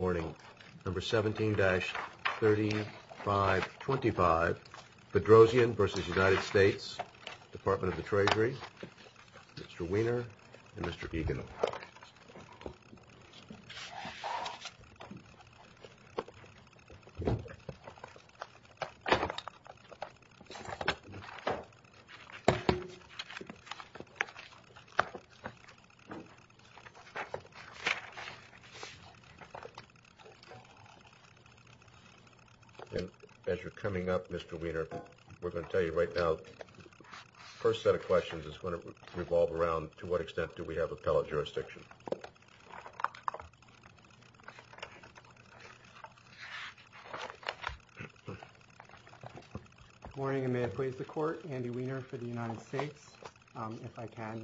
17-3525, Bedrosian v. United States, Department of the Treasury, Mr. Wiener and Mr. Egan. As you're coming up, Mr. Wiener, we're going to tell you right now, the first set of questions is going to revolve around to what extent do we have appellate jurisdiction. Good morning, and may I please the court. Andy Wiener for the United States. If I can, to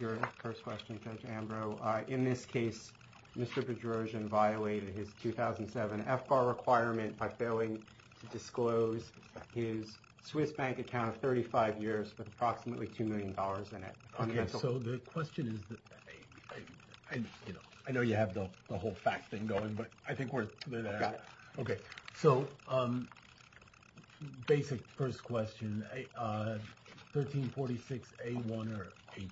your first question, Judge Ambrose. In this case, Mr. Bedrosian violated his 2007 FBAR requirement by failing to disclose his Swiss bank account of 35 years with approximately $2 million in it. Okay, so the question is, I know you have the whole fact thing going, but I think we're there. Okay, so basic first question, 1346A1 or A2?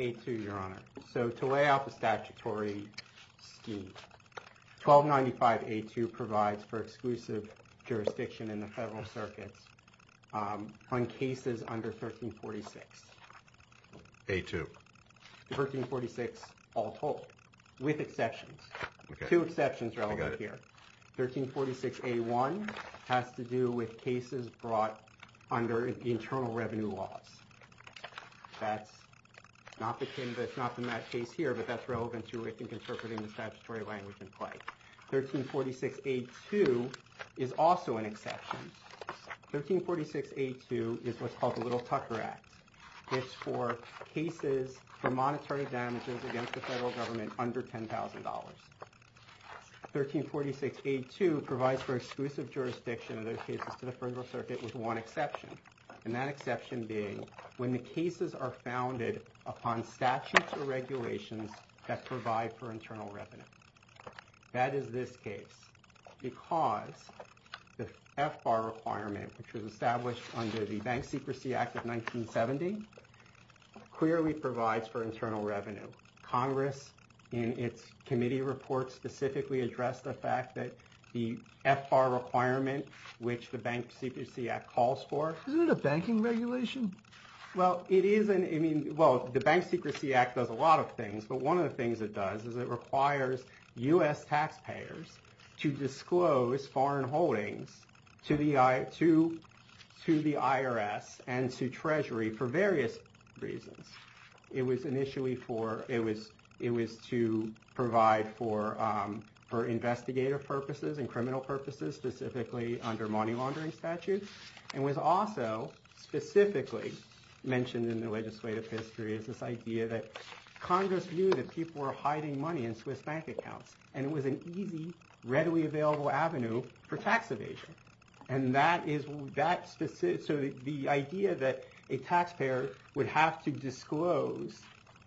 A2, your honor. So to lay out the statutory scheme, 1295A2 provides for exclusive jurisdiction in the federal circuits on cases under 1346. A2. 1346 all told, with exceptions. Okay. Two exceptions relevant here. 1346A1 has to do with cases brought under the internal revenue laws. That's not the case here, but that's relevant to it in interpreting the statutory language in play. 1346A2 is also an exception. 1346A2 is what's called the Little Tucker Act. It's for cases for monetary damages against the federal government under $10,000. 1346A2 provides for exclusive jurisdiction in those cases to the federal circuit with one exception, and that exception being when the cases are founded upon statutes or regulations that provide for internal revenue. That is this case because the FBAR requirement, which was established under the Bank Secrecy Act of 1970, clearly provides for internal revenue. Congress, in its committee report, specifically addressed the fact that the FBAR requirement, which the Bank Secrecy Act calls for... Isn't it a banking regulation? Well, it is. I mean, well, the Bank Secrecy Act does a lot of things, but one of the things it does is it requires US taxpayers to disclose foreign holdings to the IRS and to Treasury for various reasons. It was initially for... It was to provide for investigator purposes and criminal purposes, specifically under money laundering statutes, and was also specifically mentioned in legislative history as this idea that Congress knew that people were hiding money in Swiss bank accounts, and it was an easy, readily available avenue for tax evasion. And that is... So the idea that a taxpayer would have to disclose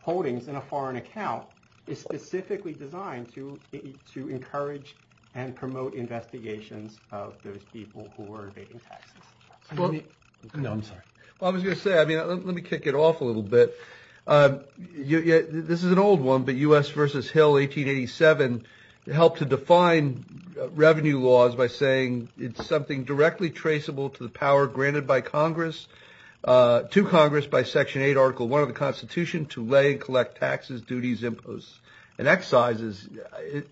holdings in a foreign account is specifically designed to encourage and promote investigations of those people who were evading taxes. Well, I was going to say, I mean, let me kick it off a little bit. This is an old one, but US v. Hill, 1887, helped to define revenue laws by saying it's something directly traceable to the power granted by Congress, to Congress by Section 8, Article 1 of the Constitution, to lay and collect taxes, duties, imposts, and excises.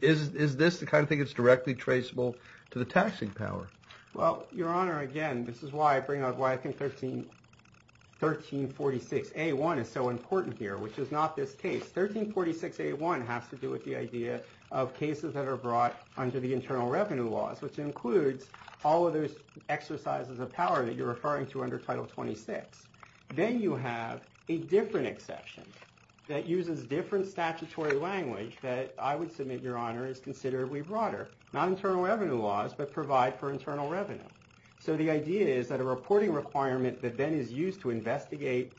Is this the kind of thing that's directly traceable to the taxing power? Well, Your Honor, again, this is why I bring up why I think 1346A1 is so important here, which is not this case. 1346A1 has to do with the idea of cases that are brought under the internal revenue laws, which includes all of those exercises of power that you're referring to under Title 26. Then you have a different exception that uses different statutory language that I would submit, Your Honor, is considerably broader. Not internal revenue laws, but provide for internal revenue. So the idea is that a reporting requirement that then is used to investigate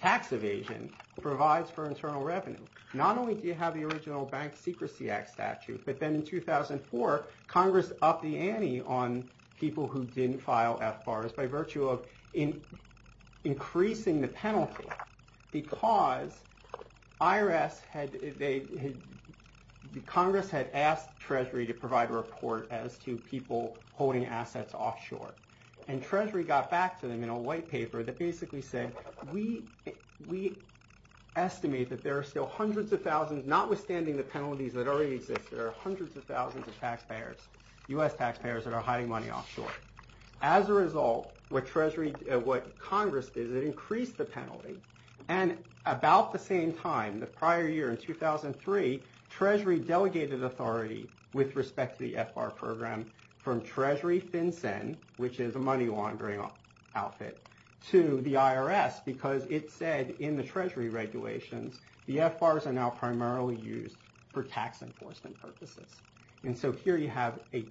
tax evasion provides for internal revenue. Not only do you have the original Bank Secrecy Act statute, but then in 2004, Congress upped the ante on people who didn't file FBARs by virtue of increasing the penalty, because the Congress had asked Treasury to provide a report as to people holding assets offshore, and Treasury got back to them in a white paper that basically said, we estimate that there are still hundreds of thousands, notwithstanding the penalties that already exist, there are hundreds of thousands of taxpayers, U.S. taxpayers, that are hiding money offshore. As a result, what Congress did is it increased the penalty, and about the same time, the prior year in 2003, Treasury delegated authority with respect to the FBAR program from Treasury FinCEN, which is a money laundering outfit, to the IRS, because it said in the Treasury regulations the FBARs are now primarily used for tax enforcement purposes. And so here you have a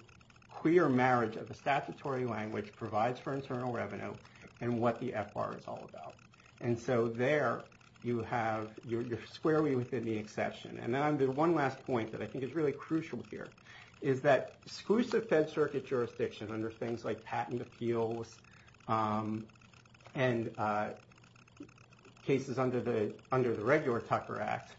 clear marriage of the statutory language provides for internal revenue, and what the FBAR is all about. And so there you have, you're squarely within the exception. And then I'm going to one last point that I think is really crucial here, is that exclusive Fed Circuit jurisdiction under things like patent appeals, and cases under the regular Tucker Act,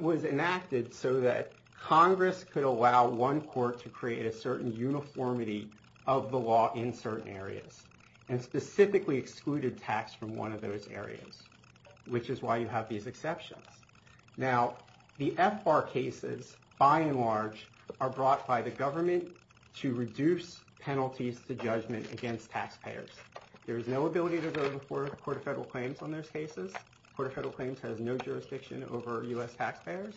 was enacted so that Congress could allow one court to create a certain uniformity of the law in certain areas, and specifically excluded tax from one of those areas, which is why you have these exceptions. Now, the FBAR cases, by and large, are brought by the government to reduce penalties to judgment against taxpayers. There is no ability to go before the Court of Federal Claims on those cases. Court of Federal Claims has no jurisdiction over U.S. taxpayers.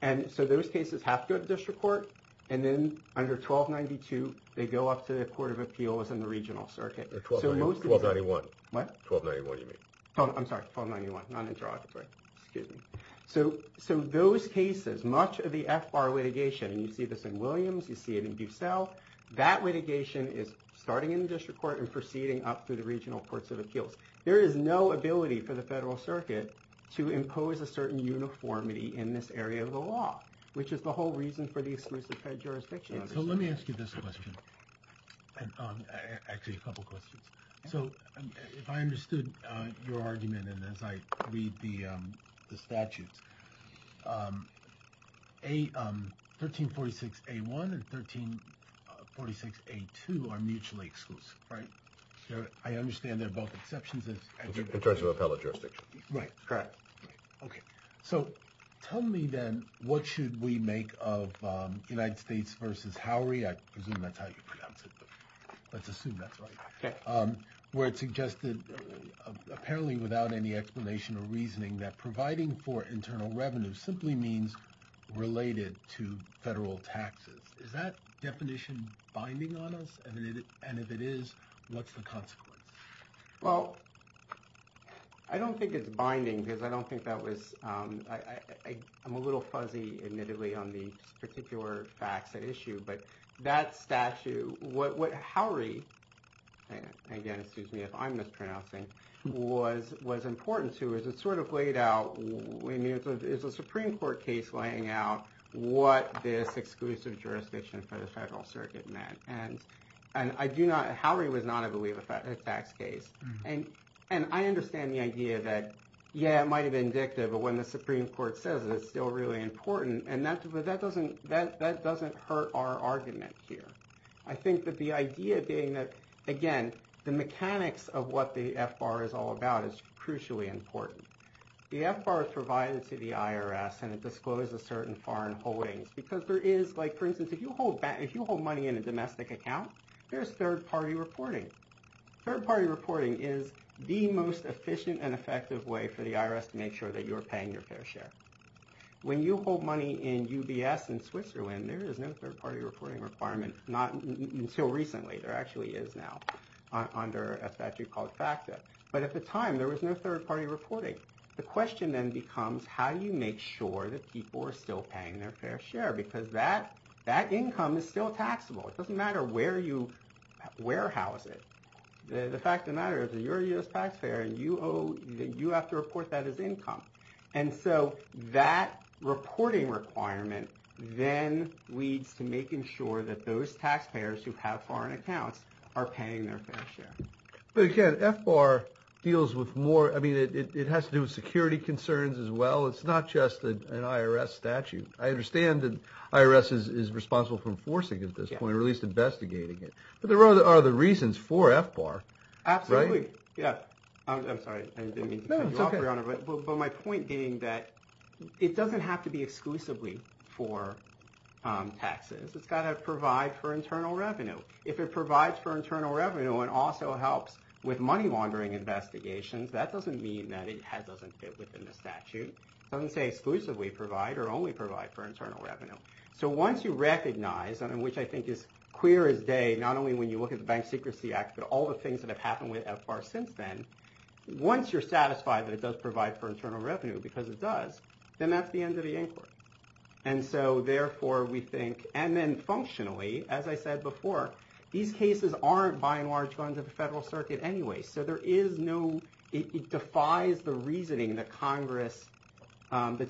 And so those cases have to go to district court, and then under 1292, they go up to the Court of Appeals in the regional circuit. 1291. What? 1291, you mean. I'm sorry, 1291, non-interrogatory. Excuse me. So those cases, much of the FBAR litigation, and you see this in Williams, you see it in Bucell, that litigation is starting in the district court and proceeding up through the regional courts of appeals. There is no ability for the Federal Circuit to impose a certain uniformity in this area of the law, which is the whole reason for the exclusive fed jurisdiction. So let me ask you this question. Actually, a couple of questions. So if I understood your argument, and as I read the statutes, 1346A1 and 1346A2 are mutually exclusive, right? I understand they're both exceptions. In terms of appellate jurisdiction. Right, correct. Okay. So tell me then, what should we make of United States v. Howery? I presume that's how you pronounce it, but let's assume that's right. Where it suggested, apparently without any explanation or reasoning, that providing for internal revenue simply means related to federal taxes. Is that definition binding on us? And if it is, what's the consequence? Well, I don't think it's binding because I don't think that was, I'm a little fuzzy, admittedly, on the particular facts at issue, but that statute, what Howery, again, excuse me if I'm mispronouncing, was important to, is it sort of laid out, I mean, it's a Supreme Court case laying out what this exclusive jurisdiction for the Federal Circuit meant. And I do not, Howery was not, I believe, a tax case. And I understand the idea that, yeah, it might have been indicative, but when the Supreme Court says it, it's still really important. And that doesn't hurt our argument here. I think that the idea being that, again, the mechanics of what the FBAR is all about is crucially important. The FBAR is provided to the IRS and it discloses certain foreign holdings because there is, like for instance, if you hold money in a domestic account, there's third-party reporting. Third-party reporting is the most efficient and effective way for the IRS to make sure that you're paying your fair share. When you hold money in UBS in Switzerland, there is no third-party reporting requirement, not until recently. There actually is now under a statute called FACTA. But at the time, there was no third-party reporting. The question then becomes, how do you make sure that people are still paying their fair share? Because that income is still taxable. It doesn't matter where you warehouse it. The fact of the matter is that you're a U.S. taxpayer and you have to report that as income. And so that reporting requirement then leads to making sure that those taxpayers who have foreign accounts are paying their fair share. But again, FBAR deals with more, I mean, it has to do with security concerns as well. It's not just an IRS statute. I understand that IRS is responsible for enforcing at this point or at least investigating it. But there are other reasons for FBAR, right? Absolutely. Yeah. I'm sorry. I didn't mean to cut you off, Your Honor. But my point being that it doesn't have to be exclusively for taxes. It's got to provide for internal revenue. If it provides for internal revenue and also helps with money laundering investigations, that doesn't mean that it doesn't fit within the statute. It doesn't say exclusively provide or only provide for internal revenue. So once you recognize, and which I think is clear as day, not only when you look at the Bank Secrecy Act, but all the things that have happened with FBAR since then, once you're satisfied that it does provide for internal revenue because it does, then that's the end of the inquiry. And so therefore we think, and then functionally, as I said before, these cases aren't by and large going to the federal circuit anyway. So there is no, it defies the reasoning that Congress had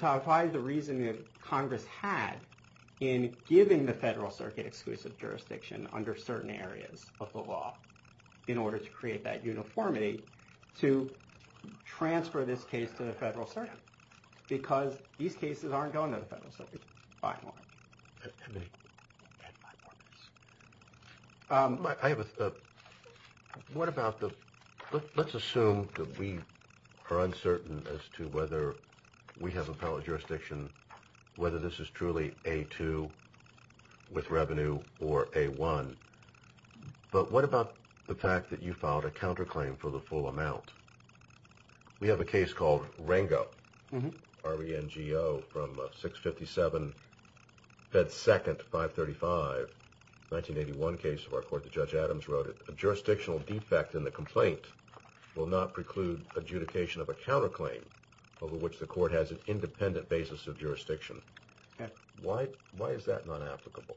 in giving the federal circuit exclusive jurisdiction under certain areas of the law in order to create that uniformity to transfer this case to the federal circuit because these cases aren't going to the federal circuit by and large. I have a, what about the, let's assume that we are uncertain as to whether we have appellate jurisdiction, whether this is truly A2 with revenue or A1. But what about the fact that you filed a counterclaim for the full amount? We have a case called Rango, R-E-N-G-O from 657 Fed 2nd 535 1981 case of our court. The judge Adams wrote it. A jurisdictional defect in the complaint will not preclude adjudication of a counterclaim over which the court has an independent basis of jurisdiction. Why is that not applicable?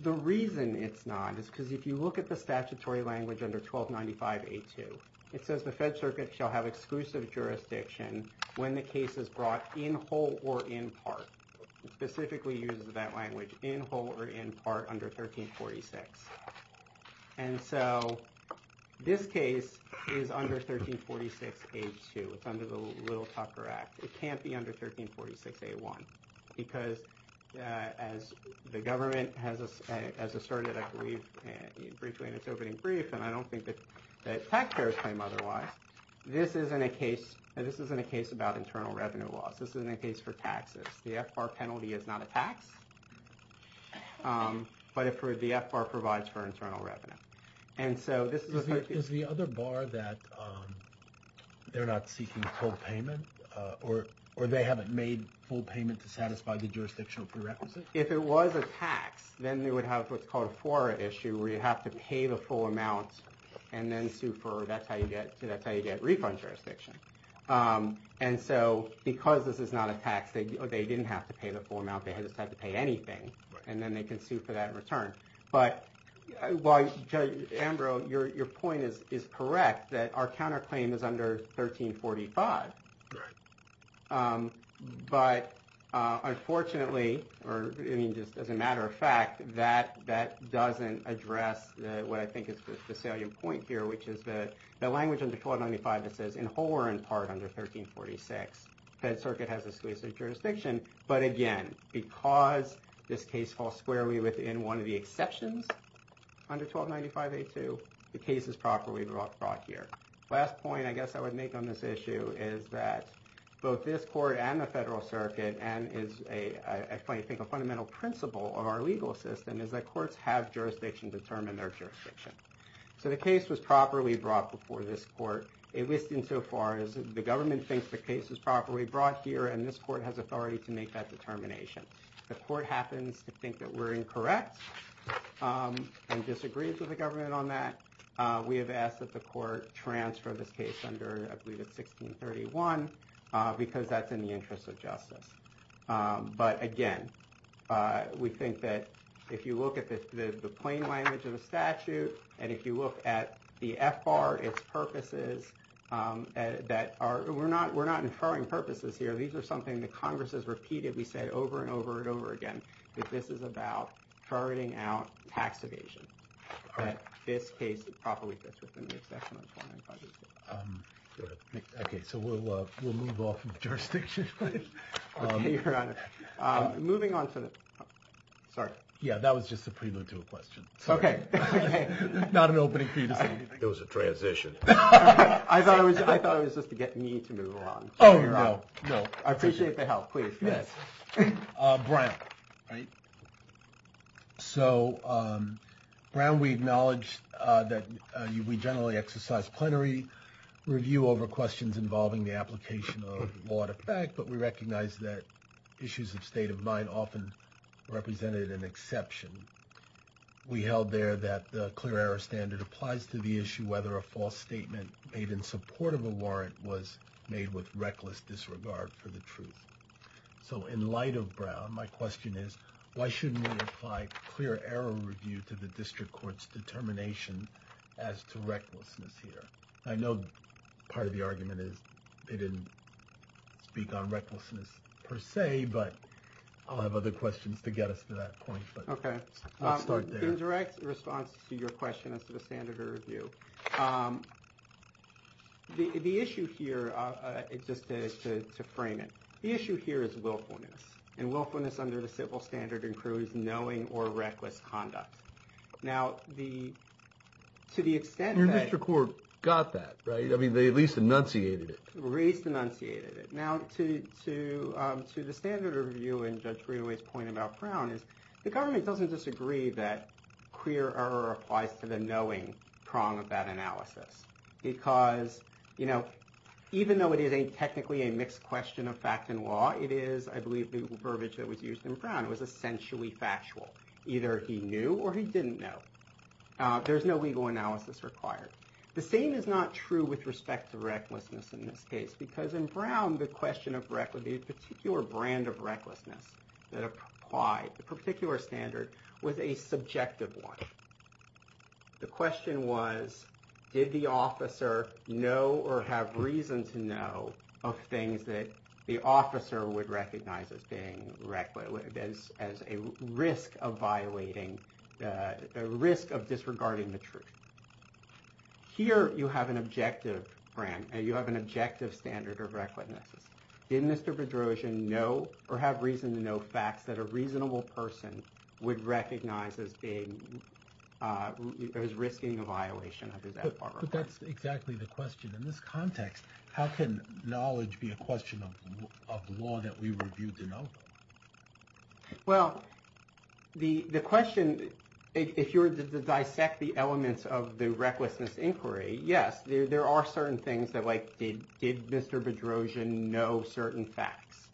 The reason it's not is because if you look at the statutory language under 1295 A2, it says the fed circuit shall have exclusive jurisdiction when the case is brought in whole or in part. It specifically uses that language in whole or in part under 1346. And so this case is under 1346 A2. It's under the Little Tucker Act. It can't be under 1346 A1 because as the government has asserted, I believe, briefly in its opening brief, and I don't think that taxpayers claim otherwise, this isn't a case about internal revenue loss. This isn't a case for taxes. The FBAR penalty is not a tax, but the FBAR provides for internal revenue. Is the other bar that they're not seeking full payment or they haven't made full payment to satisfy the jurisdictional prerequisites? If it was a tax, then they would have what's called a fora issue where you have to pay the full amount and then sue for, that's how you get refund jurisdiction. And so because this is not a tax, they didn't have to pay the full amount. They just had to pay anything and then they can sue for that return. But Judge Ambrose, your point is correct that our counterclaim is under 1345. But unfortunately, or I mean, just as a matter of fact, that doesn't address what I think is the salient point here, which is that the language under 1295 that says in whole or in part under 1346, Fed Circuit has exclusive jurisdiction. But again, because this case falls squarely within one of the exceptions under 1295A2, the case is properly brought here. Last point I guess I would make on this issue is that both this court and the Federal Circuit and is, I think, a fundamental principle of our legal system is that courts have jurisdiction to determine their jurisdiction. So the case was properly brought before this court, at least insofar as the government thinks the case is properly brought here and this court has authority to make that determination. The court happens to agree that we're incorrect and disagrees with the government on that. We have asked that the court transfer this case under, I believe it's 1631, because that's in the interest of justice. But again, we think that if you look at the plain language of the statute and if you look at the F-bar, it's purposes that are, we're not inferring purposes here. These are something that Congress has repeatedly said over and over and over again, that this is about charting out tax evasion, that this case properly fits within the exception of 1295A2. Okay, so we'll move off of jurisdiction. Okay, Your Honor. Moving on to the, sorry. Yeah, that was just a prelude to a question. Okay. Not an opening for you to say anything. It was a transition. I thought it was just to get me to move along. Oh, no, no. I appreciate the help. Please, go ahead. Brown. So, Brown, we acknowledge that we generally exercise plenary review over questions involving the application of law to fact, but we recognize that issues of state of mind often represented an exception. We held there that the clear error standard applies to the issue whether a false truth. So, in light of Brown, my question is, why shouldn't we apply clear error review to the district court's determination as to recklessness here? I know part of the argument is they didn't speak on recklessness per se, but I'll have other questions to get us to that point, but. Okay. In direct response to your question as to the standard of review, the issue here, just to frame it, the issue here is willfulness, and willfulness under the civil standard includes knowing or reckless conduct. Now, to the extent that- Your district court got that, right? I mean, they at least enunciated it. At least enunciated it. Now, to the standard of review and Judge Brenaway's point about Brown is the government doesn't disagree that clear error applies to the knowing prong of that analysis, because even though it is a technically a mixed question of fact and law, it is, I believe, the verbiage that was used in Brown. It was essentially factual. Either he knew or he didn't know. There's no legal analysis required. The same is not true with respect to recklessness in this case, because in Brown, the particular brand of recklessness that applied, the particular standard was a subjective one. The question was, did the officer know or have reason to know of things that the officer would recognize as being reckless, as a risk of violating, a risk of disregarding the truth? Here, you have an objective brand, and you have an objective standard of recklessness. Did Mr. Bedrosian know or have reason to know facts that a reasonable person would recognize as being- as risking a violation under that framework? But that's exactly the question. In this context, how can knowledge be a question of law that we review to know? Well, the question, if you were to dissect the elements of the recklessness inquiry, yes, there are certain things that, like, did Mr. Bedrosian know certain facts,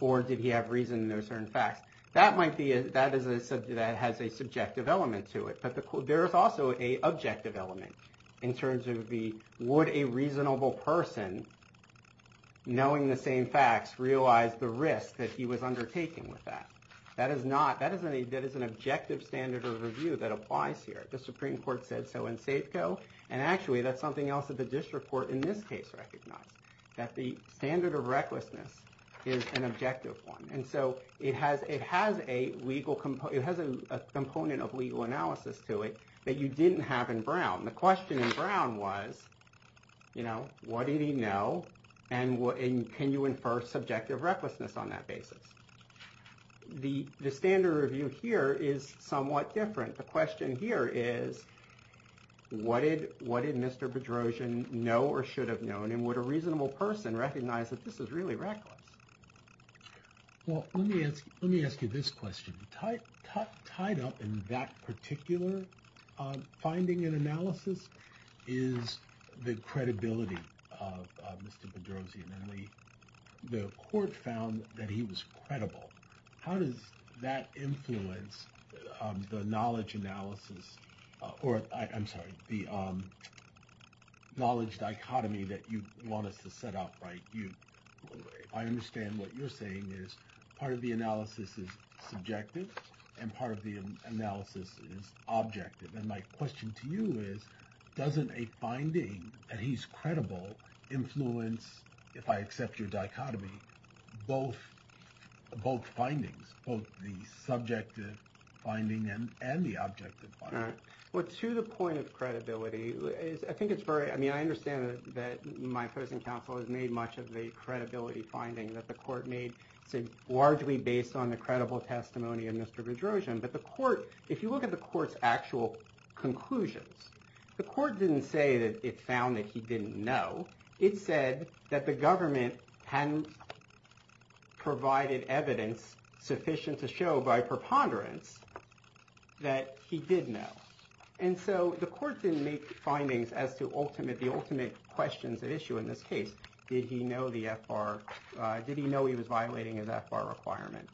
or did he have reason to know certain facts? That might be- that is a subject- that has a subjective element to it, but there is also a objective element in terms of the, would a reasonable person, knowing the same facts, realize the risk that he was undertaking with that? That is not- that is an objective standard of review that applies here. The Supreme Court said so in Safeco, and actually, that's something else that the district court in this case recognized, that the standard of recklessness is an objective one. And so, it has a legal- it has a component of legal analysis to it that you didn't have in Brown. The question in Brown was, you know, what did he know, and what- and can you infer subjective recklessness on that basis? The standard review here is somewhat different. The question here is, what did Mr. Bedrosian know or should have known, and would a reasonable person recognize that this is really reckless? Well, let me ask you this question. Tied up in that particular finding and analysis is the credibility of Mr. Bedrosian, and the court found that he was credible. How does that influence the knowledge analysis, or I'm sorry, the knowledge dichotomy that you have? Because I understand what you're saying is, part of the analysis is subjective, and part of the analysis is objective. And my question to you is, doesn't a finding that he's credible influence, if I accept your dichotomy, both findings, both the subjective finding and the objective finding? Well, to the point of credibility, I think it's very- I mean, I understand that my person counsel has made much of the credibility finding that the court made. It's largely based on the credible testimony of Mr. Bedrosian, but the court- if you look at the court's actual conclusions, the court didn't say that it found that he didn't know. It said that the government hadn't provided evidence sufficient to show by preponderance that he did know. And so the court didn't make findings as to ultimate- the ultimate questions at issue in this case, did he know the FR- did he know he was violating his FR requirement?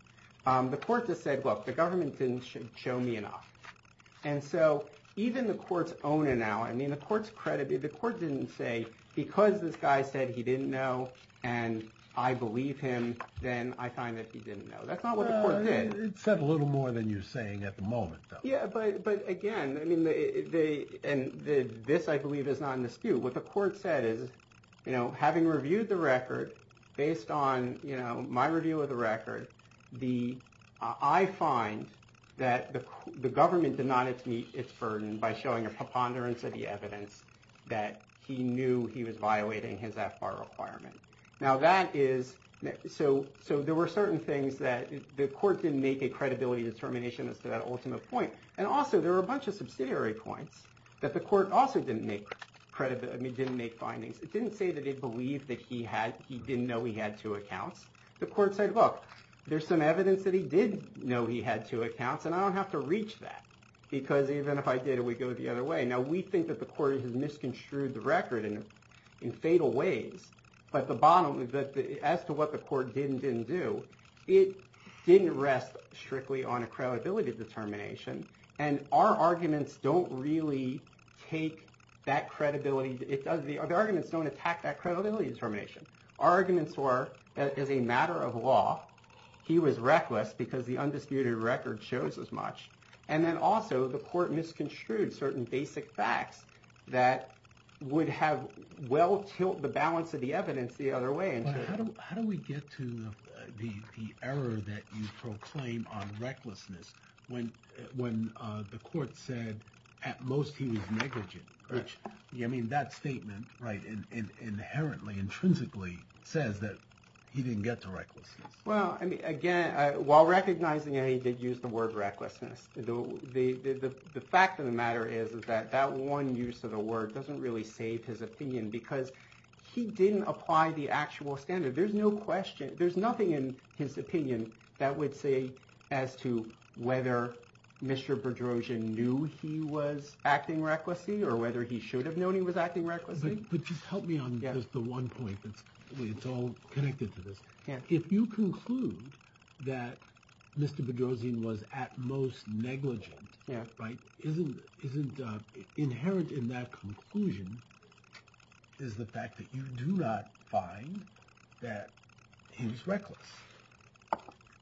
The court just said, look, the government didn't show me enough. And so even the court's own analysis- I mean, the court's credibility- the court didn't say, because this guy said he didn't know, and I believe him, then I find that he didn't know. That's not what the court did. Well, it said a little more than you're saying at the moment, though. Yeah, but again, I mean, they- and this, I believe, is not an askew. What the court said is, you know, having reviewed the record based on, you know, my review of the record, the- I find that the government did not meet its burden by showing a preponderance of the evidence that he knew he was violating his FR requirement. Now that is- so there were certain things that the court didn't make a credibility determination as to that ultimate point. And also, there were a bunch of subsidiary points that the court also didn't make credibility- I mean, didn't make findings. It didn't say that they believed that he had- he didn't know he had two accounts. The court said, look, there's some evidence that he did know he had two accounts, and I don't have to reach that, because even if I did, it would go the other way. Now, we think that the court has misconstrued the record in fatal ways, but the bottom- as to what the court did and didn't do, it didn't rest strictly on a credibility determination. And our arguments don't really take that credibility- it doesn't- the arguments don't attack that credibility determination. Our arguments were, as a matter of law, he was reckless because the undisputed record shows as much. And then also, the court misconstrued certain basic facts that would have well-tilt the balance of the evidence the other way. How do we get to the error that you proclaim on recklessness when the court said, at most, he was negligent? I mean, that statement, right, inherently, intrinsically, says that he didn't get to recklessness. Well, again, while recognizing that he did use the word recklessness, the fact of the matter is that that one use of the word doesn't really save his actual standard. There's no question- there's nothing in his opinion that would say as to whether Mr. Bedrosian knew he was acting recklessly or whether he should have known he was acting recklessly. But just help me on just the one point that's- it's all connected to this. If you conclude that Mr. Bedrosian was, at most, negligent, right, isn't- inherent in that that he was reckless?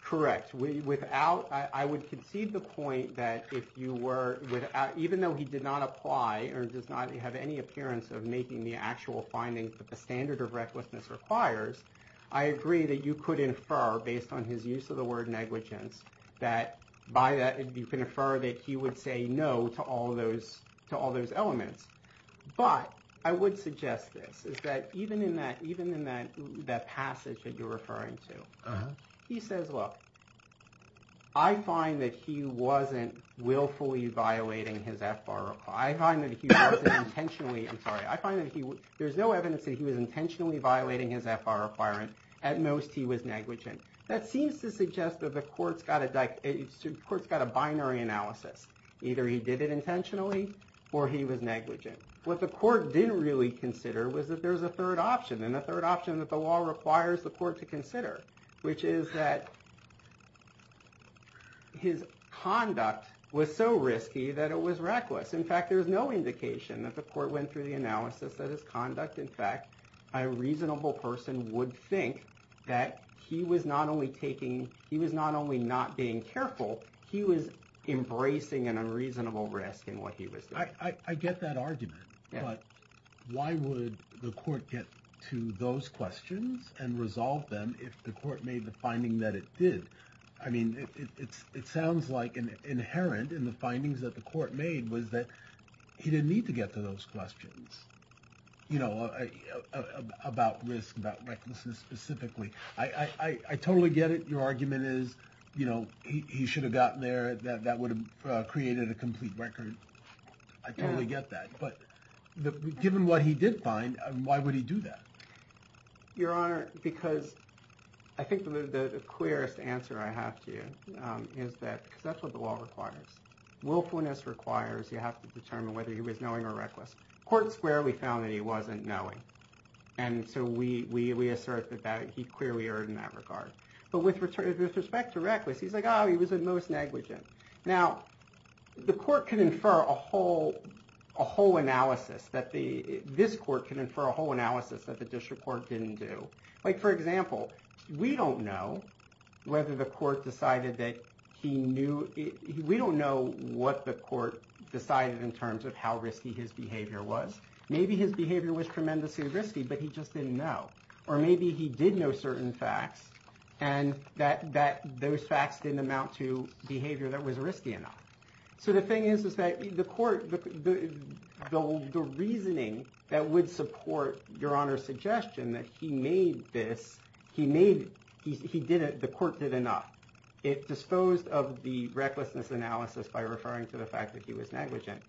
Correct. Without- I would concede the point that if you were without- even though he did not apply or does not have any appearance of making the actual findings that the standard of recklessness requires, I agree that you could infer, based on his use of the word negligence, that by that you can infer that he would say no to all those- to all those elements. But I would suggest this, is that even in that- even in that- that passage that you're referring to, he says, look, I find that he wasn't willfully violating his FR- I find that he wasn't intentionally- I'm sorry, I find that he- there's no evidence that he was intentionally violating his FR requirement. At most, he was negligent. That seems to suggest that the court's got a dich- the court's got a binary analysis. Either he did it intentionally, or he was negligent. What the court didn't really consider was that there's a third option, and the third option that the law requires the court to consider, which is that his conduct was so risky that it was reckless. In fact, there's no indication that the court went through the analysis that his being careful, he was embracing an unreasonable risk in what he was doing. I- I- I get that argument, but why would the court get to those questions and resolve them if the court made the finding that it did? I mean, it's- it sounds like an inherent in the findings that the court made was that he didn't need to get to those questions, you know, about risk, about recklessness specifically. I- I- I totally get it. Your argument is, you know, he- he should have gotten there, that- that would have created a complete record. I totally get that, but the- given what he did find, why would he do that? Your Honor, because I think the- the clearest answer I have to you is that- because that's what the law requires. Willfulness requires you have to determine whether he was knowing or not. So we- we- we assert that that- he clearly erred in that regard. But with- with respect to reckless, he's like, oh, he was at most negligent. Now, the court can infer a whole- a whole analysis that the- this court can infer a whole analysis that the district court didn't do. Like, for example, we don't know whether the court decided that he knew- we don't know what the court decided in terms of how risky his behavior was. Maybe his behavior was tremendously risky, but he just didn't know. Or maybe he did know certain facts, and that- that- those facts didn't amount to behavior that was risky enough. So the thing is, is that the court- the- the- the reasoning that would support Your Honor's suggestion that he made this- he made- he- he did it- the court did enough. It disposed of the recklessness analysis by referring to the fact that he was negligent.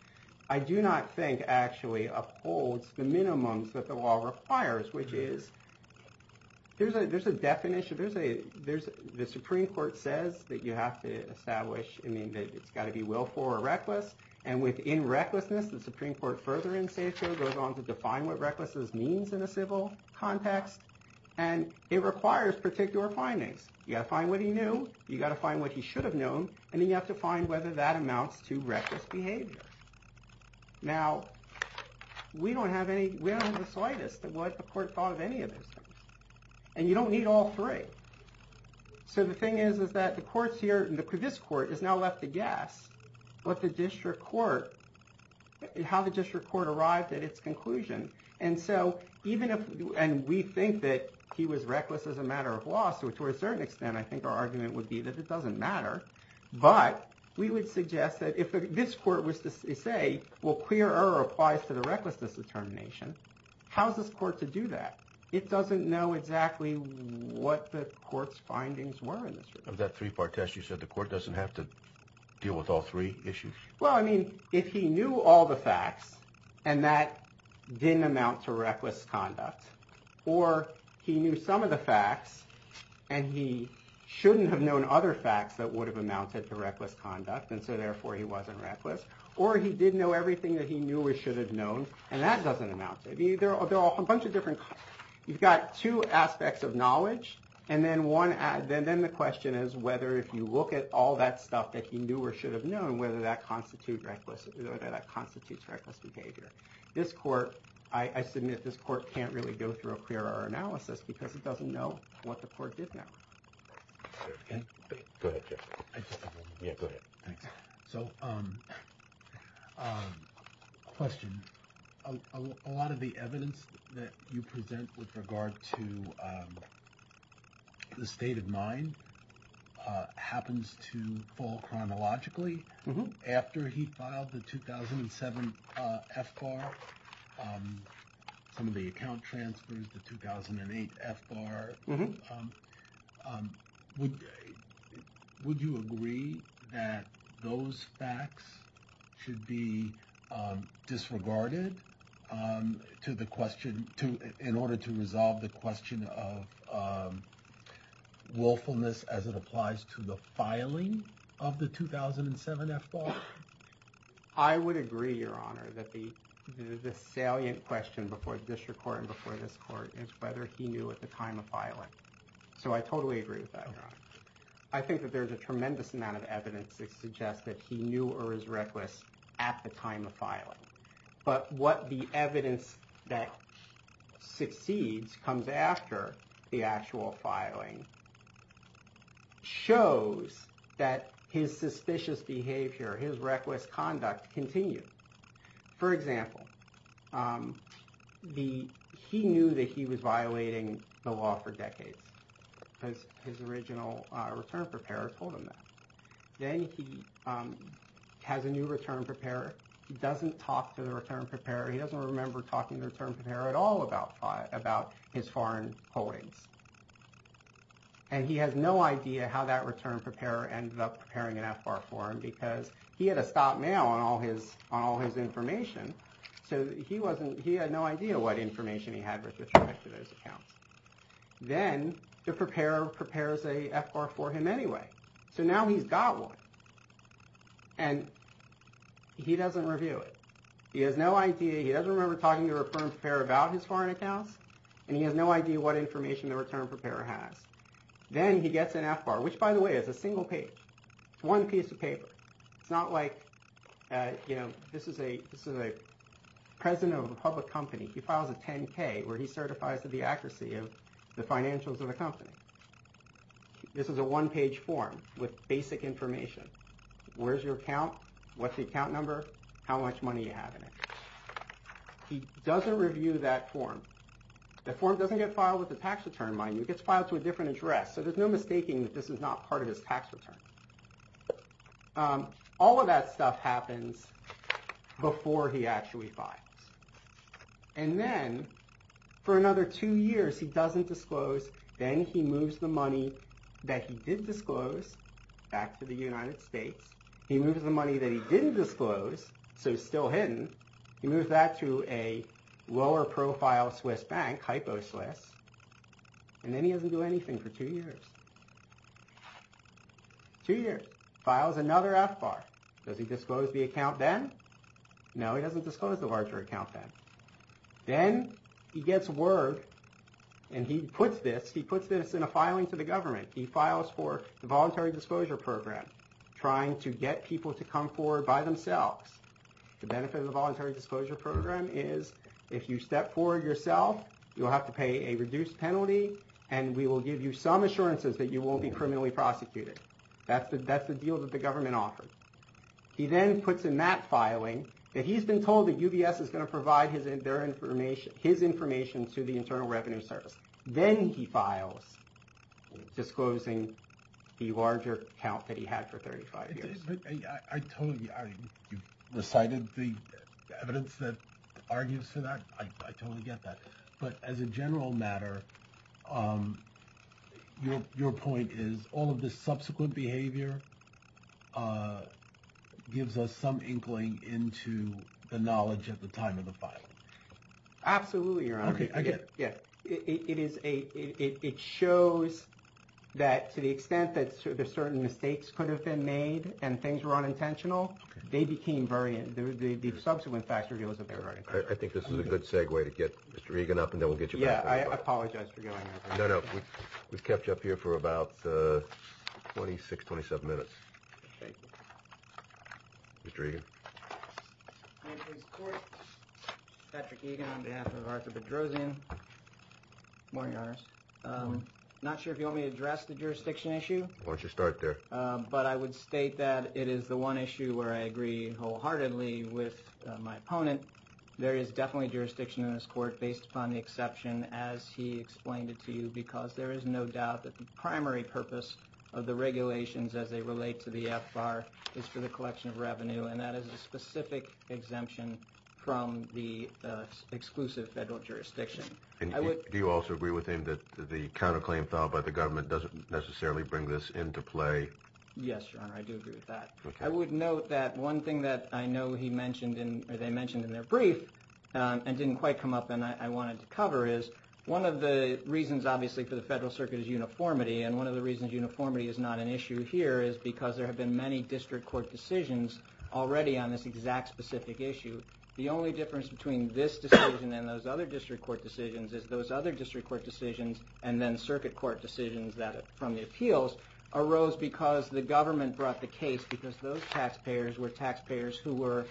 There's a- there's a definition. There's a- there's- the Supreme Court says that you have to establish- I mean, that it's got to be willful or reckless. And within recklessness, the Supreme Court further in satio goes on to define what recklessness means in a civil context. And it requires particular findings. You got to find what he knew, you got to find what he should have known, and then you have to find whether that amounts to reckless behavior. Now, we don't have any- we don't have any of those things. And you don't need all three. So the thing is, is that the courts here- this court has now left to guess what the district court- how the district court arrived at its conclusion. And so even if- and we think that he was reckless as a matter of law, so to a certain extent, I think our argument would be that it doesn't matter. But we would suggest that if this court was to say, well, clear error applies to the recklessness determination, how's this court to do that? It doesn't know exactly what the court's findings were in this regard. Of that three-part test, you said the court doesn't have to deal with all three issues? Well, I mean, if he knew all the facts and that didn't amount to reckless conduct, or he knew some of the facts and he shouldn't have known other facts that would have amounted to reckless conduct and so therefore he wasn't reckless, or he did know everything that he knew or should have known and that doesn't amount to- there are a bunch of different- you've got two aspects of knowledge and then one- then the question is whether if you look at all that stuff that he knew or should have known, whether that constitutes reckless behavior. This court- I submit this court can't really go through a clear error analysis because it doesn't know what the court did know. Ken? Go ahead, Jeff. Yeah, go ahead. Thanks. So, question. A lot of the evidence that you present with regard to the state of mind happens to fall chronologically after he filed the 2007 FBAR, some of the account transfers, the 2008 FBAR. Would you agree that those facts should be disregarded to the question- in order to resolve the question of willfulness as it applies to the filing of the 2007 FBAR? I would agree, Your Honor, that the salient question before the district court and before this court is whether he knew at the time of filing. So, I totally agree with that, Your Honor. I think that there's a tremendous amount of evidence that suggests that he knew or was reckless at the time of filing, but what the evidence that succeeds comes after the actual conduct continues. For example, he knew that he was violating the law for decades because his original return preparer told him that. Then he has a new return preparer. He doesn't talk to the return preparer. He doesn't remember talking to the return preparer at all about his foreign holdings, and he has no idea how that return preparer ended up preparing an FBAR for him because he had to stop mail on all his information, so he had no idea what information he had with respect to those accounts. Then the preparer prepares an FBAR for him anyway, so now he's got one, and he doesn't review it. He has no idea. He doesn't remember talking to the return preparer about his foreign accounts, and he has no idea what information the return preparer had. It's one piece of paper. It's not like this is a president of a public company. He files a 10-K, where he certifies the accuracy of the financials of the company. This is a one-page form with basic information. Where's your account? What's the account number? How much money do you have in it? He doesn't review that form. The form doesn't get filed with the tax return, mind you. It gets filed to a different address, so there's no mistaking that this is not part of his tax return. All of that stuff happens before he actually files, and then for another two years, he doesn't disclose. Then he moves the money that he did disclose back to the United States. He moves the money that he didn't disclose, so it's still hidden. He moves that to a lower-profile Swiss bank, Hyposlice, and then he doesn't do anything for two years. Two years. Files another FBAR. Does he disclose the account then? No, he doesn't disclose the larger account then. Then he gets word, and he puts this in a filing to the government. He files for the Voluntary Disclosure Program, trying to get people to come forward by themselves. The benefit of the Voluntary Disclosure Program is if you step forward yourself, you'll have to pay a reduced penalty, and we will give you some assurances that you won't be criminally prosecuted. That's the deal that the government offers. He then puts in that filing, and he's been told that UBS is going to provide his information to the Internal Revenue Service. Then he files, disclosing the larger account that he had for 35 years. I told you, you recited the evidence that argues for that. I totally get that, but as a general matter, your point is all of this subsequent behavior gives us some inkling into the knowledge at the time of the filing. Absolutely, Your Honor. It shows that to the extent that certain mistakes could have been made and things were unintentional, the subsequent facts reveal that they were unintentional. I think this is a good segue to get Mr. Regan up, and then we'll get you back. Yeah, I apologize for going there. No, no. We've kept you up here for about 26, 27 minutes. Thank you. Mr. Regan. Patrick Regan on behalf of Arthur Bedrosian. Good morning, Your Honor. Good morning. Not sure if you want me to address the jurisdiction issue. Why don't you start there. But I would state that it is the one issue where I agree wholeheartedly with my opponent. There is definitely jurisdiction in this court, based upon the exception as he explained it to you, because there is no doubt that the primary purpose of the regulations as they relate to the FBAR is for the collection of revenue, and that is a specific exemption from the exclusive federal jurisdiction. Do you also agree with him that the counterclaim filed by the government doesn't necessarily bring this into play? Yes, Your Honor. I do agree with that. I would note that one thing that I know he mentioned, or they mentioned in their brief, and didn't quite come up and I wanted to cover is, one of the reasons obviously for the federal circuit is uniformity, and one of the reasons uniformity is not an issue here is because there have been many district court decisions already on this exact specific issue. The only difference between this decision and those other district court decisions is those other district court decisions, and then circuit court decisions from the appeals, arose because the government brought the case, because those taxpayers were taxpayers who were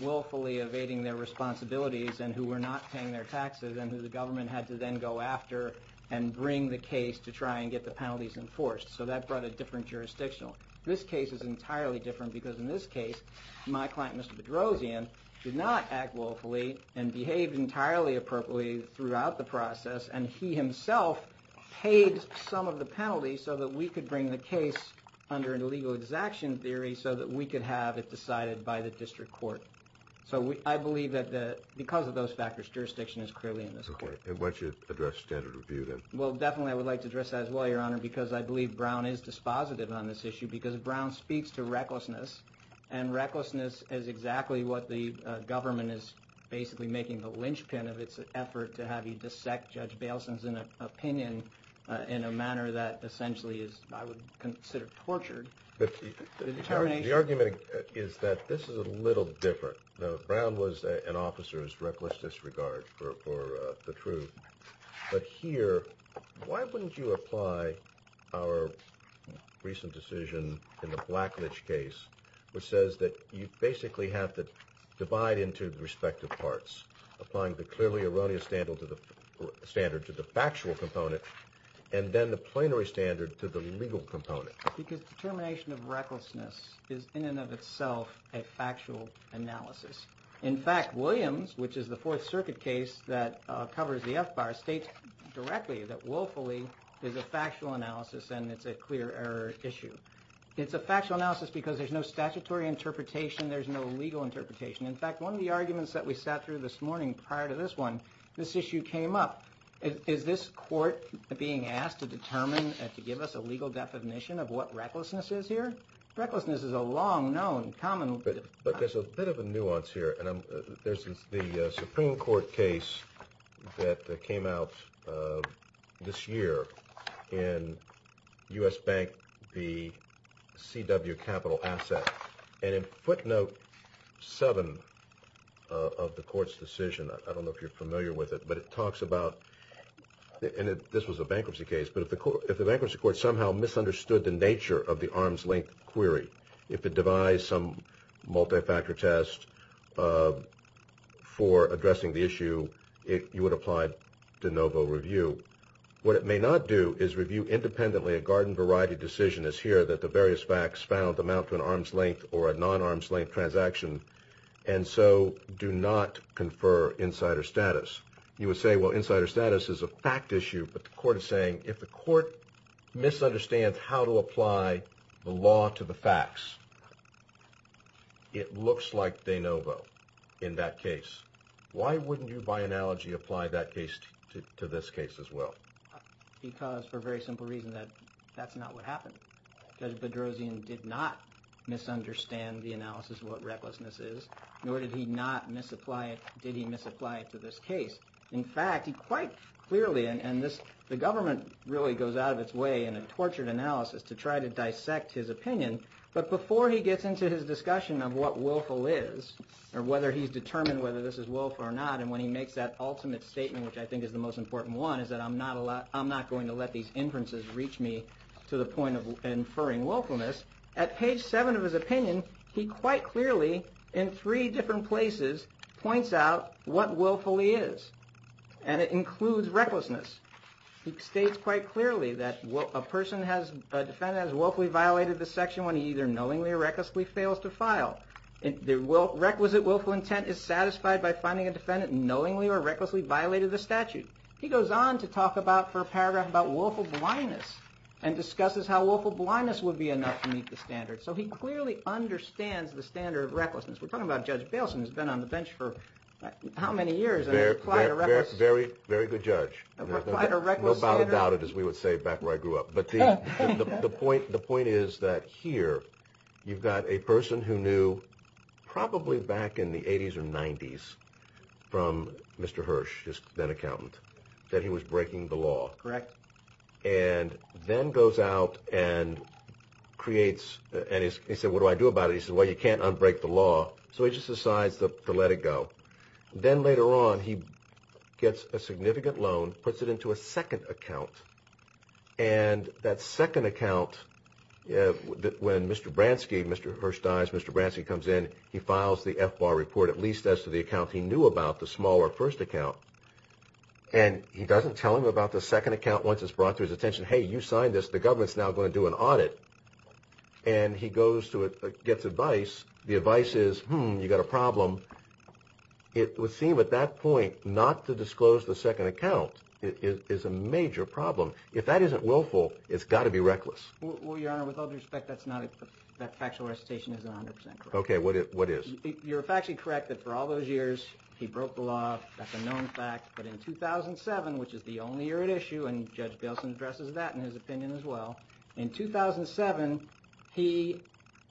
willfully evading their responsibilities and who were not paying their taxes and who the government had to then go after and bring the case to try and get the penalties enforced. So that brought a different jurisdiction. This case is entirely different because in this case, my client Mr. Bedrosian did not act willfully and behaved entirely appropriately throughout the process, and he himself paid some of the action theory so that we could have it decided by the district court. So I believe that because of those factors, jurisdiction is clearly in this court. Okay, and why don't you address standard review then? Well definitely I would like to address that as well, your honor, because I believe Brown is dispositive on this issue because Brown speaks to recklessness, and recklessness is exactly what the government is basically making the linchpin of its effort to have you dissect Judge Bailson's opinion in a manner that essentially is, I would consider, tortured. The argument is that this is a little different. Now Brown was an officer who's reckless disregard for the truth, but here, why wouldn't you apply our recent decision in the Blackledge case, which says that you basically have to divide into the respective parts, applying the clearly factual component and then the plenary standard to the legal component? Because determination of recklessness is in and of itself a factual analysis. In fact, Williams, which is the Fourth Circuit case that covers the F-bar, states directly that willfully is a factual analysis and it's a clear error issue. It's a factual analysis because there's no statutory interpretation, there's no legal interpretation. In fact, one of the arguments that we sat through this morning prior to this one, this issue came up. Is this court being asked to determine and to give us a legal definition of what recklessness is here? Recklessness is a long-known, common... But there's a bit of a nuance here, and there's the Supreme Court case that came out this year in U.S. Bank v. C.W. Capital Asset, and in footnote 7 of the court's decision, I don't know if you're familiar with it, but it talks about, and this was a bankruptcy case, but if the bankruptcy court somehow misunderstood the nature of the arms-length query, if it devised some multi-factor test for addressing the issue, you would apply de novo review. What it may not do is review independently a garden-variety decision as here that the various facts found amount to an arms-length transaction, and so do not confer insider status. You would say, well, insider status is a fact issue, but the court is saying, if the court misunderstands how to apply the law to the facts, it looks like de novo in that case. Why wouldn't you, by analogy, apply that case to this case as well? Because, for a very simple reason, that that's not what happened. Judge what recklessness is, nor did he not misapply it, did he misapply it to this case. In fact, he quite clearly, and the government really goes out of its way in a tortured analysis to try to dissect his opinion, but before he gets into his discussion of what willful is, or whether he's determined whether this is willful or not, and when he makes that ultimate statement, which I think is the most important one, is that I'm not going to let these inferences reach me to the in three different places points out what willfully is, and it includes recklessness. He states quite clearly that a person has, a defendant has willfully violated the section when he either knowingly or recklessly fails to file. The requisite willful intent is satisfied by finding a defendant knowingly or recklessly violated the statute. He goes on to talk about, for a paragraph, about willful blindness, and discusses how willful blindness would be enough to meet the standard. So he clearly understands the standard of recklessness. We're talking about Judge Bailson, who's been on the bench for how many years? Very, very good judge. No doubt about it, as we would say back where I grew up, but the point is that here you've got a person who knew, probably back in the 80s or 90s, from Mr. Hirsch, his then accountant, that he was breaking the law. And then goes out and creates, and he said, what do I do about it? He said, well, you can't unbreak the law. So he just decides to let it go. Then later on, he gets a significant loan, puts it into a second account, and that second account, when Mr. Bransky, Mr. Hirsch dies, Mr. Bransky comes in, he files the FBAR report, at least as to the account he knew about, the smaller first account. And he doesn't tell him about the second account once it's brought to his attention. Hey, you signed this, the government's now going to do an audit. And he goes to it, gets advice. The advice is, hmm, you got a problem. It would seem at that point not to disclose the second account is a major problem. If that isn't willful, it's got to be reckless. Well, Your Honor, with all due respect, that's not, that factual recitation isn't 100% correct. Okay, what is? You're factually correct that for all years, he broke the law, that's a known fact. But in 2007, which is the only year at issue, and Judge Bailson addresses that in his opinion as well, in 2007, he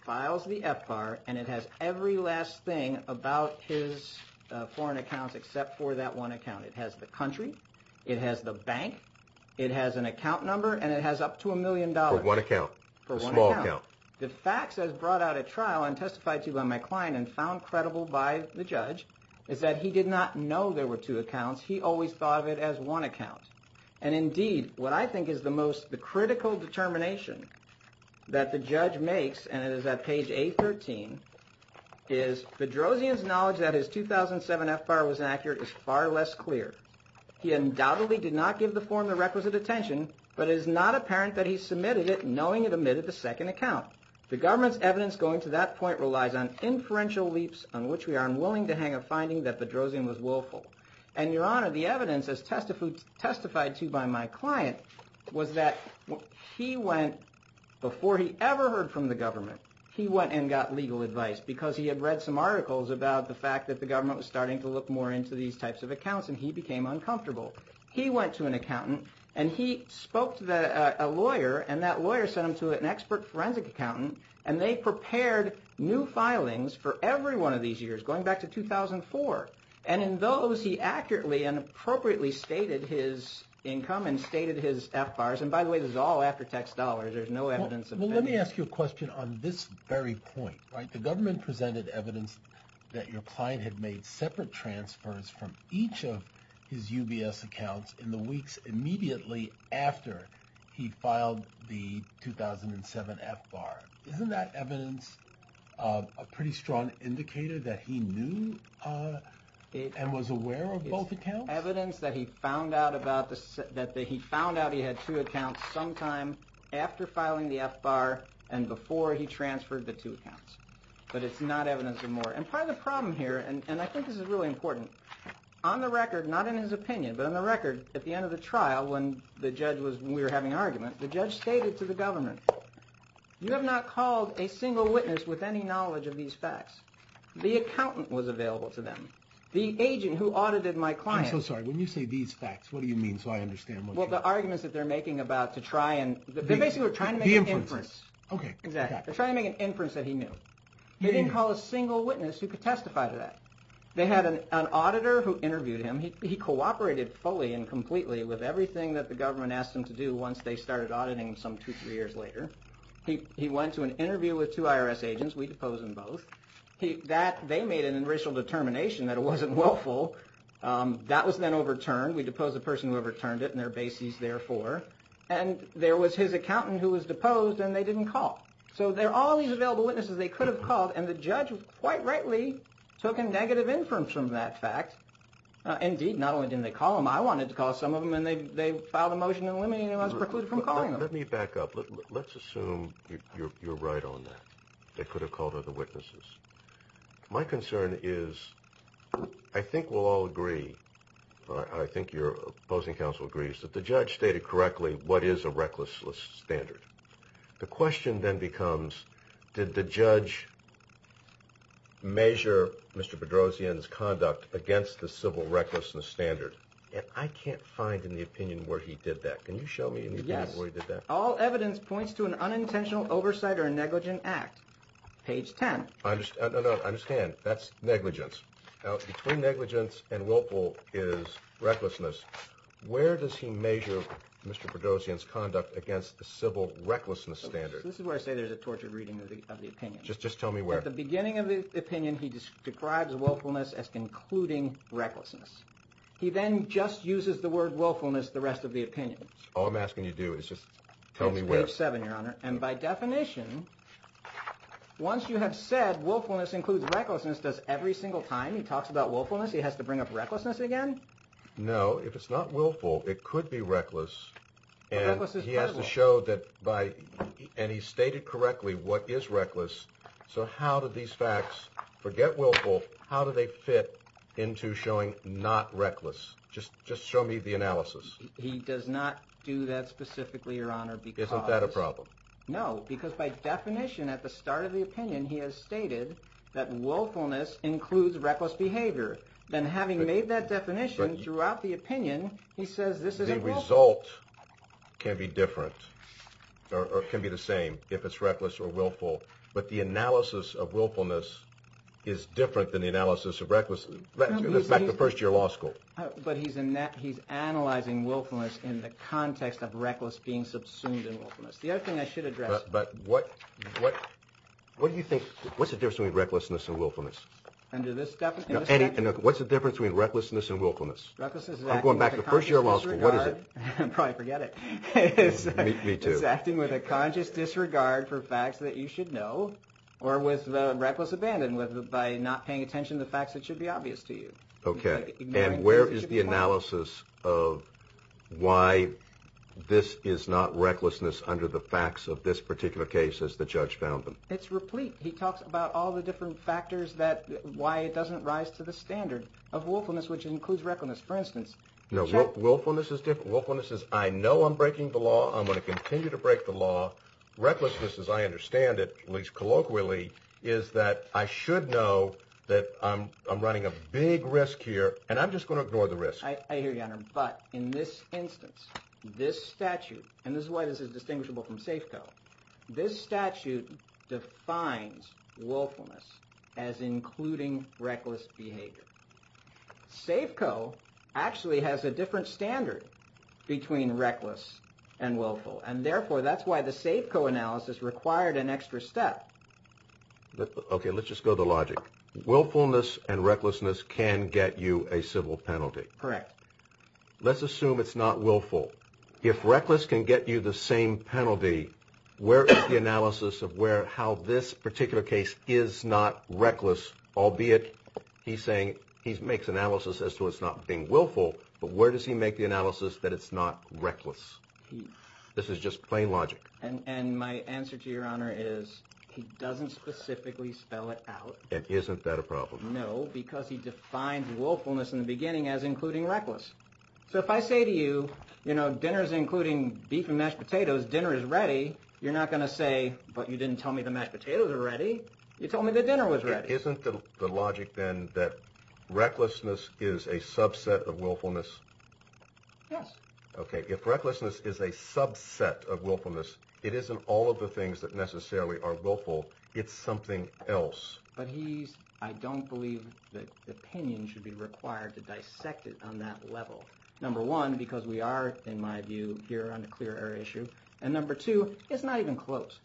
files the FBAR and it has every last thing about his foreign accounts except for that one account. It has the country, it has the bank, it has an account number, and it has up to a million dollars. For one account? For one account. The facts as brought out at trial and testified to by my client and found credible by the judge is that he did not know there were two accounts. He always thought of it as one account. And indeed, what I think is the most critical determination that the judge makes, and it is at page A13, is Bedrosian's knowledge that his 2007 FBAR was accurate is far less clear. He undoubtedly did not give the form the requisite attention, but it is not apparent that he submitted it knowing it omitted the second account. The government's evidence going to that point relies on inferential leaps on which we are unwilling to hang a finding that Bedrosian was willful. And your honor, the evidence as testified to by my client was that he went, before he ever heard from the government, he went and got legal advice because he had read some articles about the fact that the government was starting to look more into these types of accounts and he became uncomfortable. He went to an accountant and he spoke to a lawyer and that lawyer sent him to an forensic accountant and they prepared new filings for every one of these years, going back to 2004. And in those, he accurately and appropriately stated his income and stated his FBARs. And by the way, this is all after tax dollars. There's no evidence. Well, let me ask you a question on this very point, right? The government presented evidence that your client had made separate transfers from each of his UBS accounts in the weeks immediately after he filed the 2007 FBAR. Isn't that evidence a pretty strong indicator that he knew and was aware of both accounts? Evidence that he found out about, that he found out he had two accounts sometime after filing the FBAR and before he transferred the two accounts. But it's not evidence of more. And part of the opinion, but on the record, at the end of the trial, when the judge was, when we were having argument, the judge stated to the government, you have not called a single witness with any knowledge of these facts. The accountant was available to them. The agent who audited my client. I'm so sorry. When you say these facts, what do you mean? So I understand. Well, the arguments that they're making about to try and they're basically trying to make an inference. Okay. Exactly. They're trying to make an inference that he knew. They didn't call a single witness who could testify to that. They had an auditor who interviewed him. He cooperated fully and completely with everything that the government asked him to do once they started auditing some two, three years later. He went to an interview with two IRS agents. We deposed them both. That, they made an initial determination that it wasn't willful. That was then overturned. We deposed the person who overturned it and their bases therefore. And there was his accountant who was deposed and they didn't call. So there are all these available witnesses they could have called and the judge quite rightly took a negative inference from that fact. Indeed, not only didn't they call them, I wanted to call some of them and they filed a motion eliminating who was precluded from calling them. Let me back up. Let's assume you're right on that. They could have called other witnesses. My concern is, I think we'll all agree. I think your opposing counsel agrees that the judge stated correctly what is a reckless standard. The question then becomes, did the judge measure Mr. Bedrosian's conduct against the civil recklessness standard? And I can't find in the opinion where he did that. Can you show me where he did that? Yes. All evidence points to an unintentional oversight or negligent act. Page 10. I understand. That's negligence. Now between negligence and willful is recklessness. Where does he measure Mr. Bedrosian's conduct against the civil recklessness standard? This is where I say there's a tortured reading of the opinion. Just tell me where. At the beginning of the opinion, he describes willfulness as concluding recklessness. He then just uses the word willfulness the rest of the opinion. All I'm asking you to do is just tell me where. Page 7, your honor. And by definition, once you have said willfulness includes recklessness, does every single time he talks about willfulness, he has to bring up recklessness again? No. If it's not willful, it could be reckless. And he has to show that by, and he stated correctly what is reckless, so how do these facts, forget willful, how do they fit into showing not reckless? Just show me the analysis. He does not do that specifically, your honor, because. Isn't that a problem? No, because by definition at the start of the opinion, he has stated that willfulness includes reckless behavior. Then having made that definition throughout the opinion, he says this isn't willful. The result can be different or can be the same if it's reckless or willful, but the analysis of willfulness is different than the analysis of recklessness. Let's go back to first year law school. But he's analyzing willfulness in the context of reckless being subsumed in willfulness. The other thing I should address. But what do you think, what's the difference between recklessness and willfulness? Under this definition? What's difference between recklessness and willfulness? I'm going back to first year law school. What is it? Probably forget it. Me too. It's acting with a conscious disregard for facts that you should know or with reckless abandon by not paying attention to the facts that should be obvious to you. Okay. And where is the analysis of why this is not recklessness under the facts of this particular case as the judge found them? It's replete. He talks about all the different factors that why it doesn't rise to the standard of willfulness, which includes recklessness. For instance, willfulness is different. Willfulness is I know I'm breaking the law. I'm going to continue to break the law. Recklessness as I understand it, at least colloquially, is that I should know that I'm running a big risk here and I'm just going to ignore the risk. I hear you, your honor. But in this instance, this statute, and this is why this is distinguishable from Safeco, this statute defines willfulness as including reckless behavior. Safeco actually has a different standard between reckless and willful, and therefore that's why the Safeco analysis required an extra step. Okay. Let's just go to the logic. Willfulness and recklessness can get you a civil penalty. Correct. Let's assume it's not willful. If where is the analysis of where, how this particular case is not reckless, albeit he's saying he's makes analysis as to it's not being willful, but where does he make the analysis that it's not reckless? This is just plain logic. And my answer to your honor is he doesn't specifically spell it out. And isn't that a problem? No, because he defines willfulness in the beginning as including reckless. So if I say to you, you know, dinner's including beef and mashed potatoes, dinner is ready. You're not going to say, but you didn't tell me the mashed potatoes are ready. You told me the dinner was ready. Isn't the logic then that recklessness is a subset of willfulness? Yes. Okay. If recklessness is a subset of willfulness, it isn't all of the things that necessarily are willful. It's something else. But he's, I don't believe that opinion should be required to dissect it on that level. Number one, because we are, in my view here on clear air issue. And number two, it's not even close.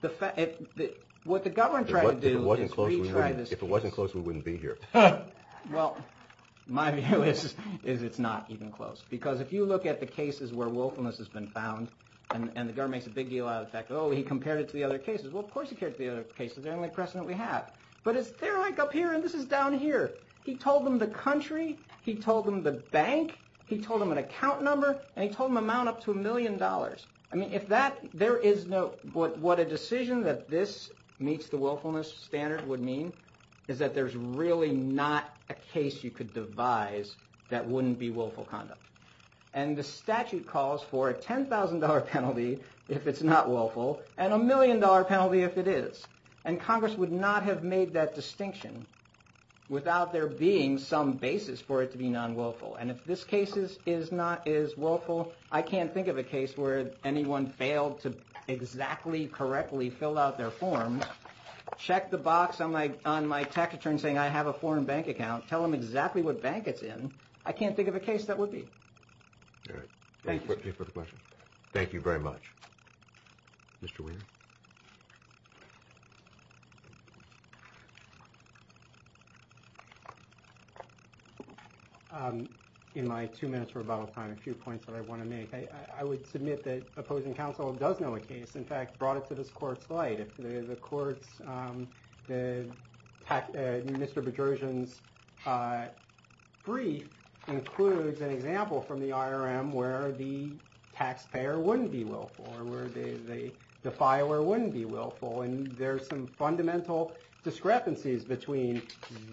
The fact that what the government tried to do is retry this. If it wasn't close, we wouldn't be here. Well, my view is, is it's not even close because if you look at the cases where willfulness has been found and the government makes a big deal out of the fact that, oh, he compared it to the other cases. Well, of course he cared the other cases. They're the only precedent we have, but it's they're like up here and this is down here. He told them the country, he told them the bank, he told them an account number, and he told them amount up to a million dollars. I mean, if that, there is no, what a decision that this meets the willfulness standard would mean is that there's really not a case you could devise that wouldn't be willful conduct. And the statute calls for a $10,000 penalty if it's not willful and a million dollar penalty if it is. And Congress would not have made that distinction without there being some basis for it to be non-willful. And if this case is not, is willful, I can't think of a case where anyone failed to exactly correctly fill out their form, check the box on my, on my tax return saying I have a foreign bank account, tell them exactly what bank it's in. I can't think of a case that would be. All right. Thank you for the question. Thank you very much. Mr. Weiner. Um, in my two minutes rebuttal time, a few points that I want to make. I, I would submit that opposing counsel does know a case. In fact, brought it to this court's light. If the courts, the Mr. Bedrosian's brief includes an example from the IRM where the taxpayer wouldn't be willful or where the, the filer wouldn't be willful. And there's some fundamental discrepancies between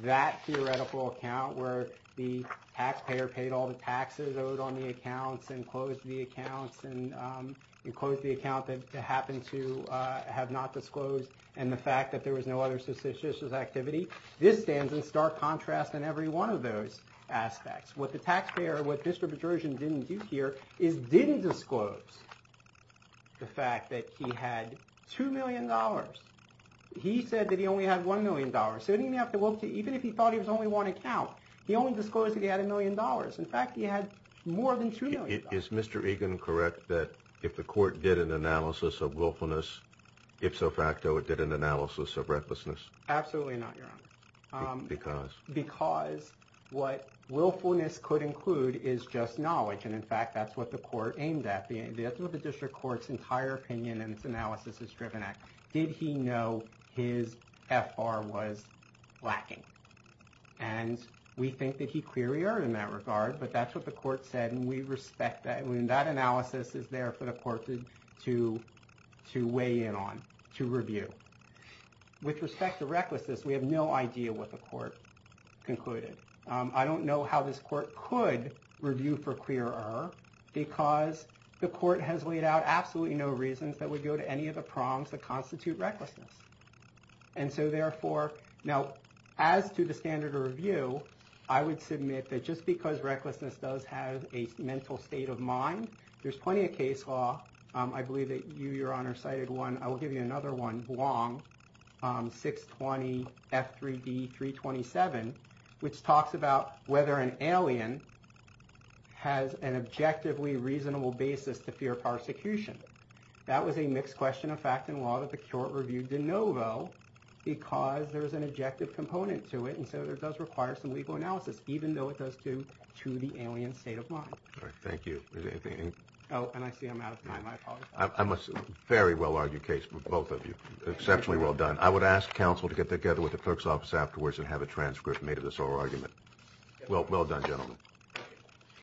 that theoretical account where the taxpayer paid all the taxes owed on the accounts and closed the accounts and, um, and closed the account that happened to, uh, have not disclosed and the fact that there was no other suspicious activity. This stands in stark contrast in every one of those aspects. What the taxpayer, what Mr. Bedrosian didn't do here is didn't disclose the fact that he had $2 million. He said that he only had $1 million. So didn't even have to look to, even if he thought he was only one account, he only disclosed that he had a million dollars. In fact, he had more than $2 million. Is Mr. Egan correct that if the court did an analysis of willfulness, ipso facto, it did an analysis of recklessness? Absolutely not, Your Honor. Because? Because what willfulness could include is just knowledge. And in fact, that's what the court aimed at. The, that's what the district court's entire opinion and its analysis is driven at. Did he know his F.R. was lacking? And we think that he clearly erred in that regard. But that's what the court said. And we respect that. And that analysis is there for the court to, to, to weigh in on, to review. With respect to recklessness, we have no idea what the court concluded. Um, I don't know how this court could review for clear error because the court has laid out absolutely no reasons that would go to any of the prongs that constitute recklessness. And so therefore, now, as to the standard of review, I would submit that just because recklessness does have a mental state of mind, there's plenty of case law. Um, I believe that you, Your Honor, cited one. I will give you another one, Wong, um, 620 F3D 327, which talks about whether an alien has an objectively reasonable basis to fear persecution. That was a mixed question of fact and law that the court reviewed de novo because there is an objective component to it. And so there does require some legal analysis, even though it does do to the alien state of mind. All right. Thank you. Is there anything? Oh, and I see I'm out of time. I apologize. I'm a very well argued case for both of you. Exceptionally well done. I would ask counsel to get together with the clerk's office afterwards and have a transcript made of this whole argument. Well, well done, gentlemen.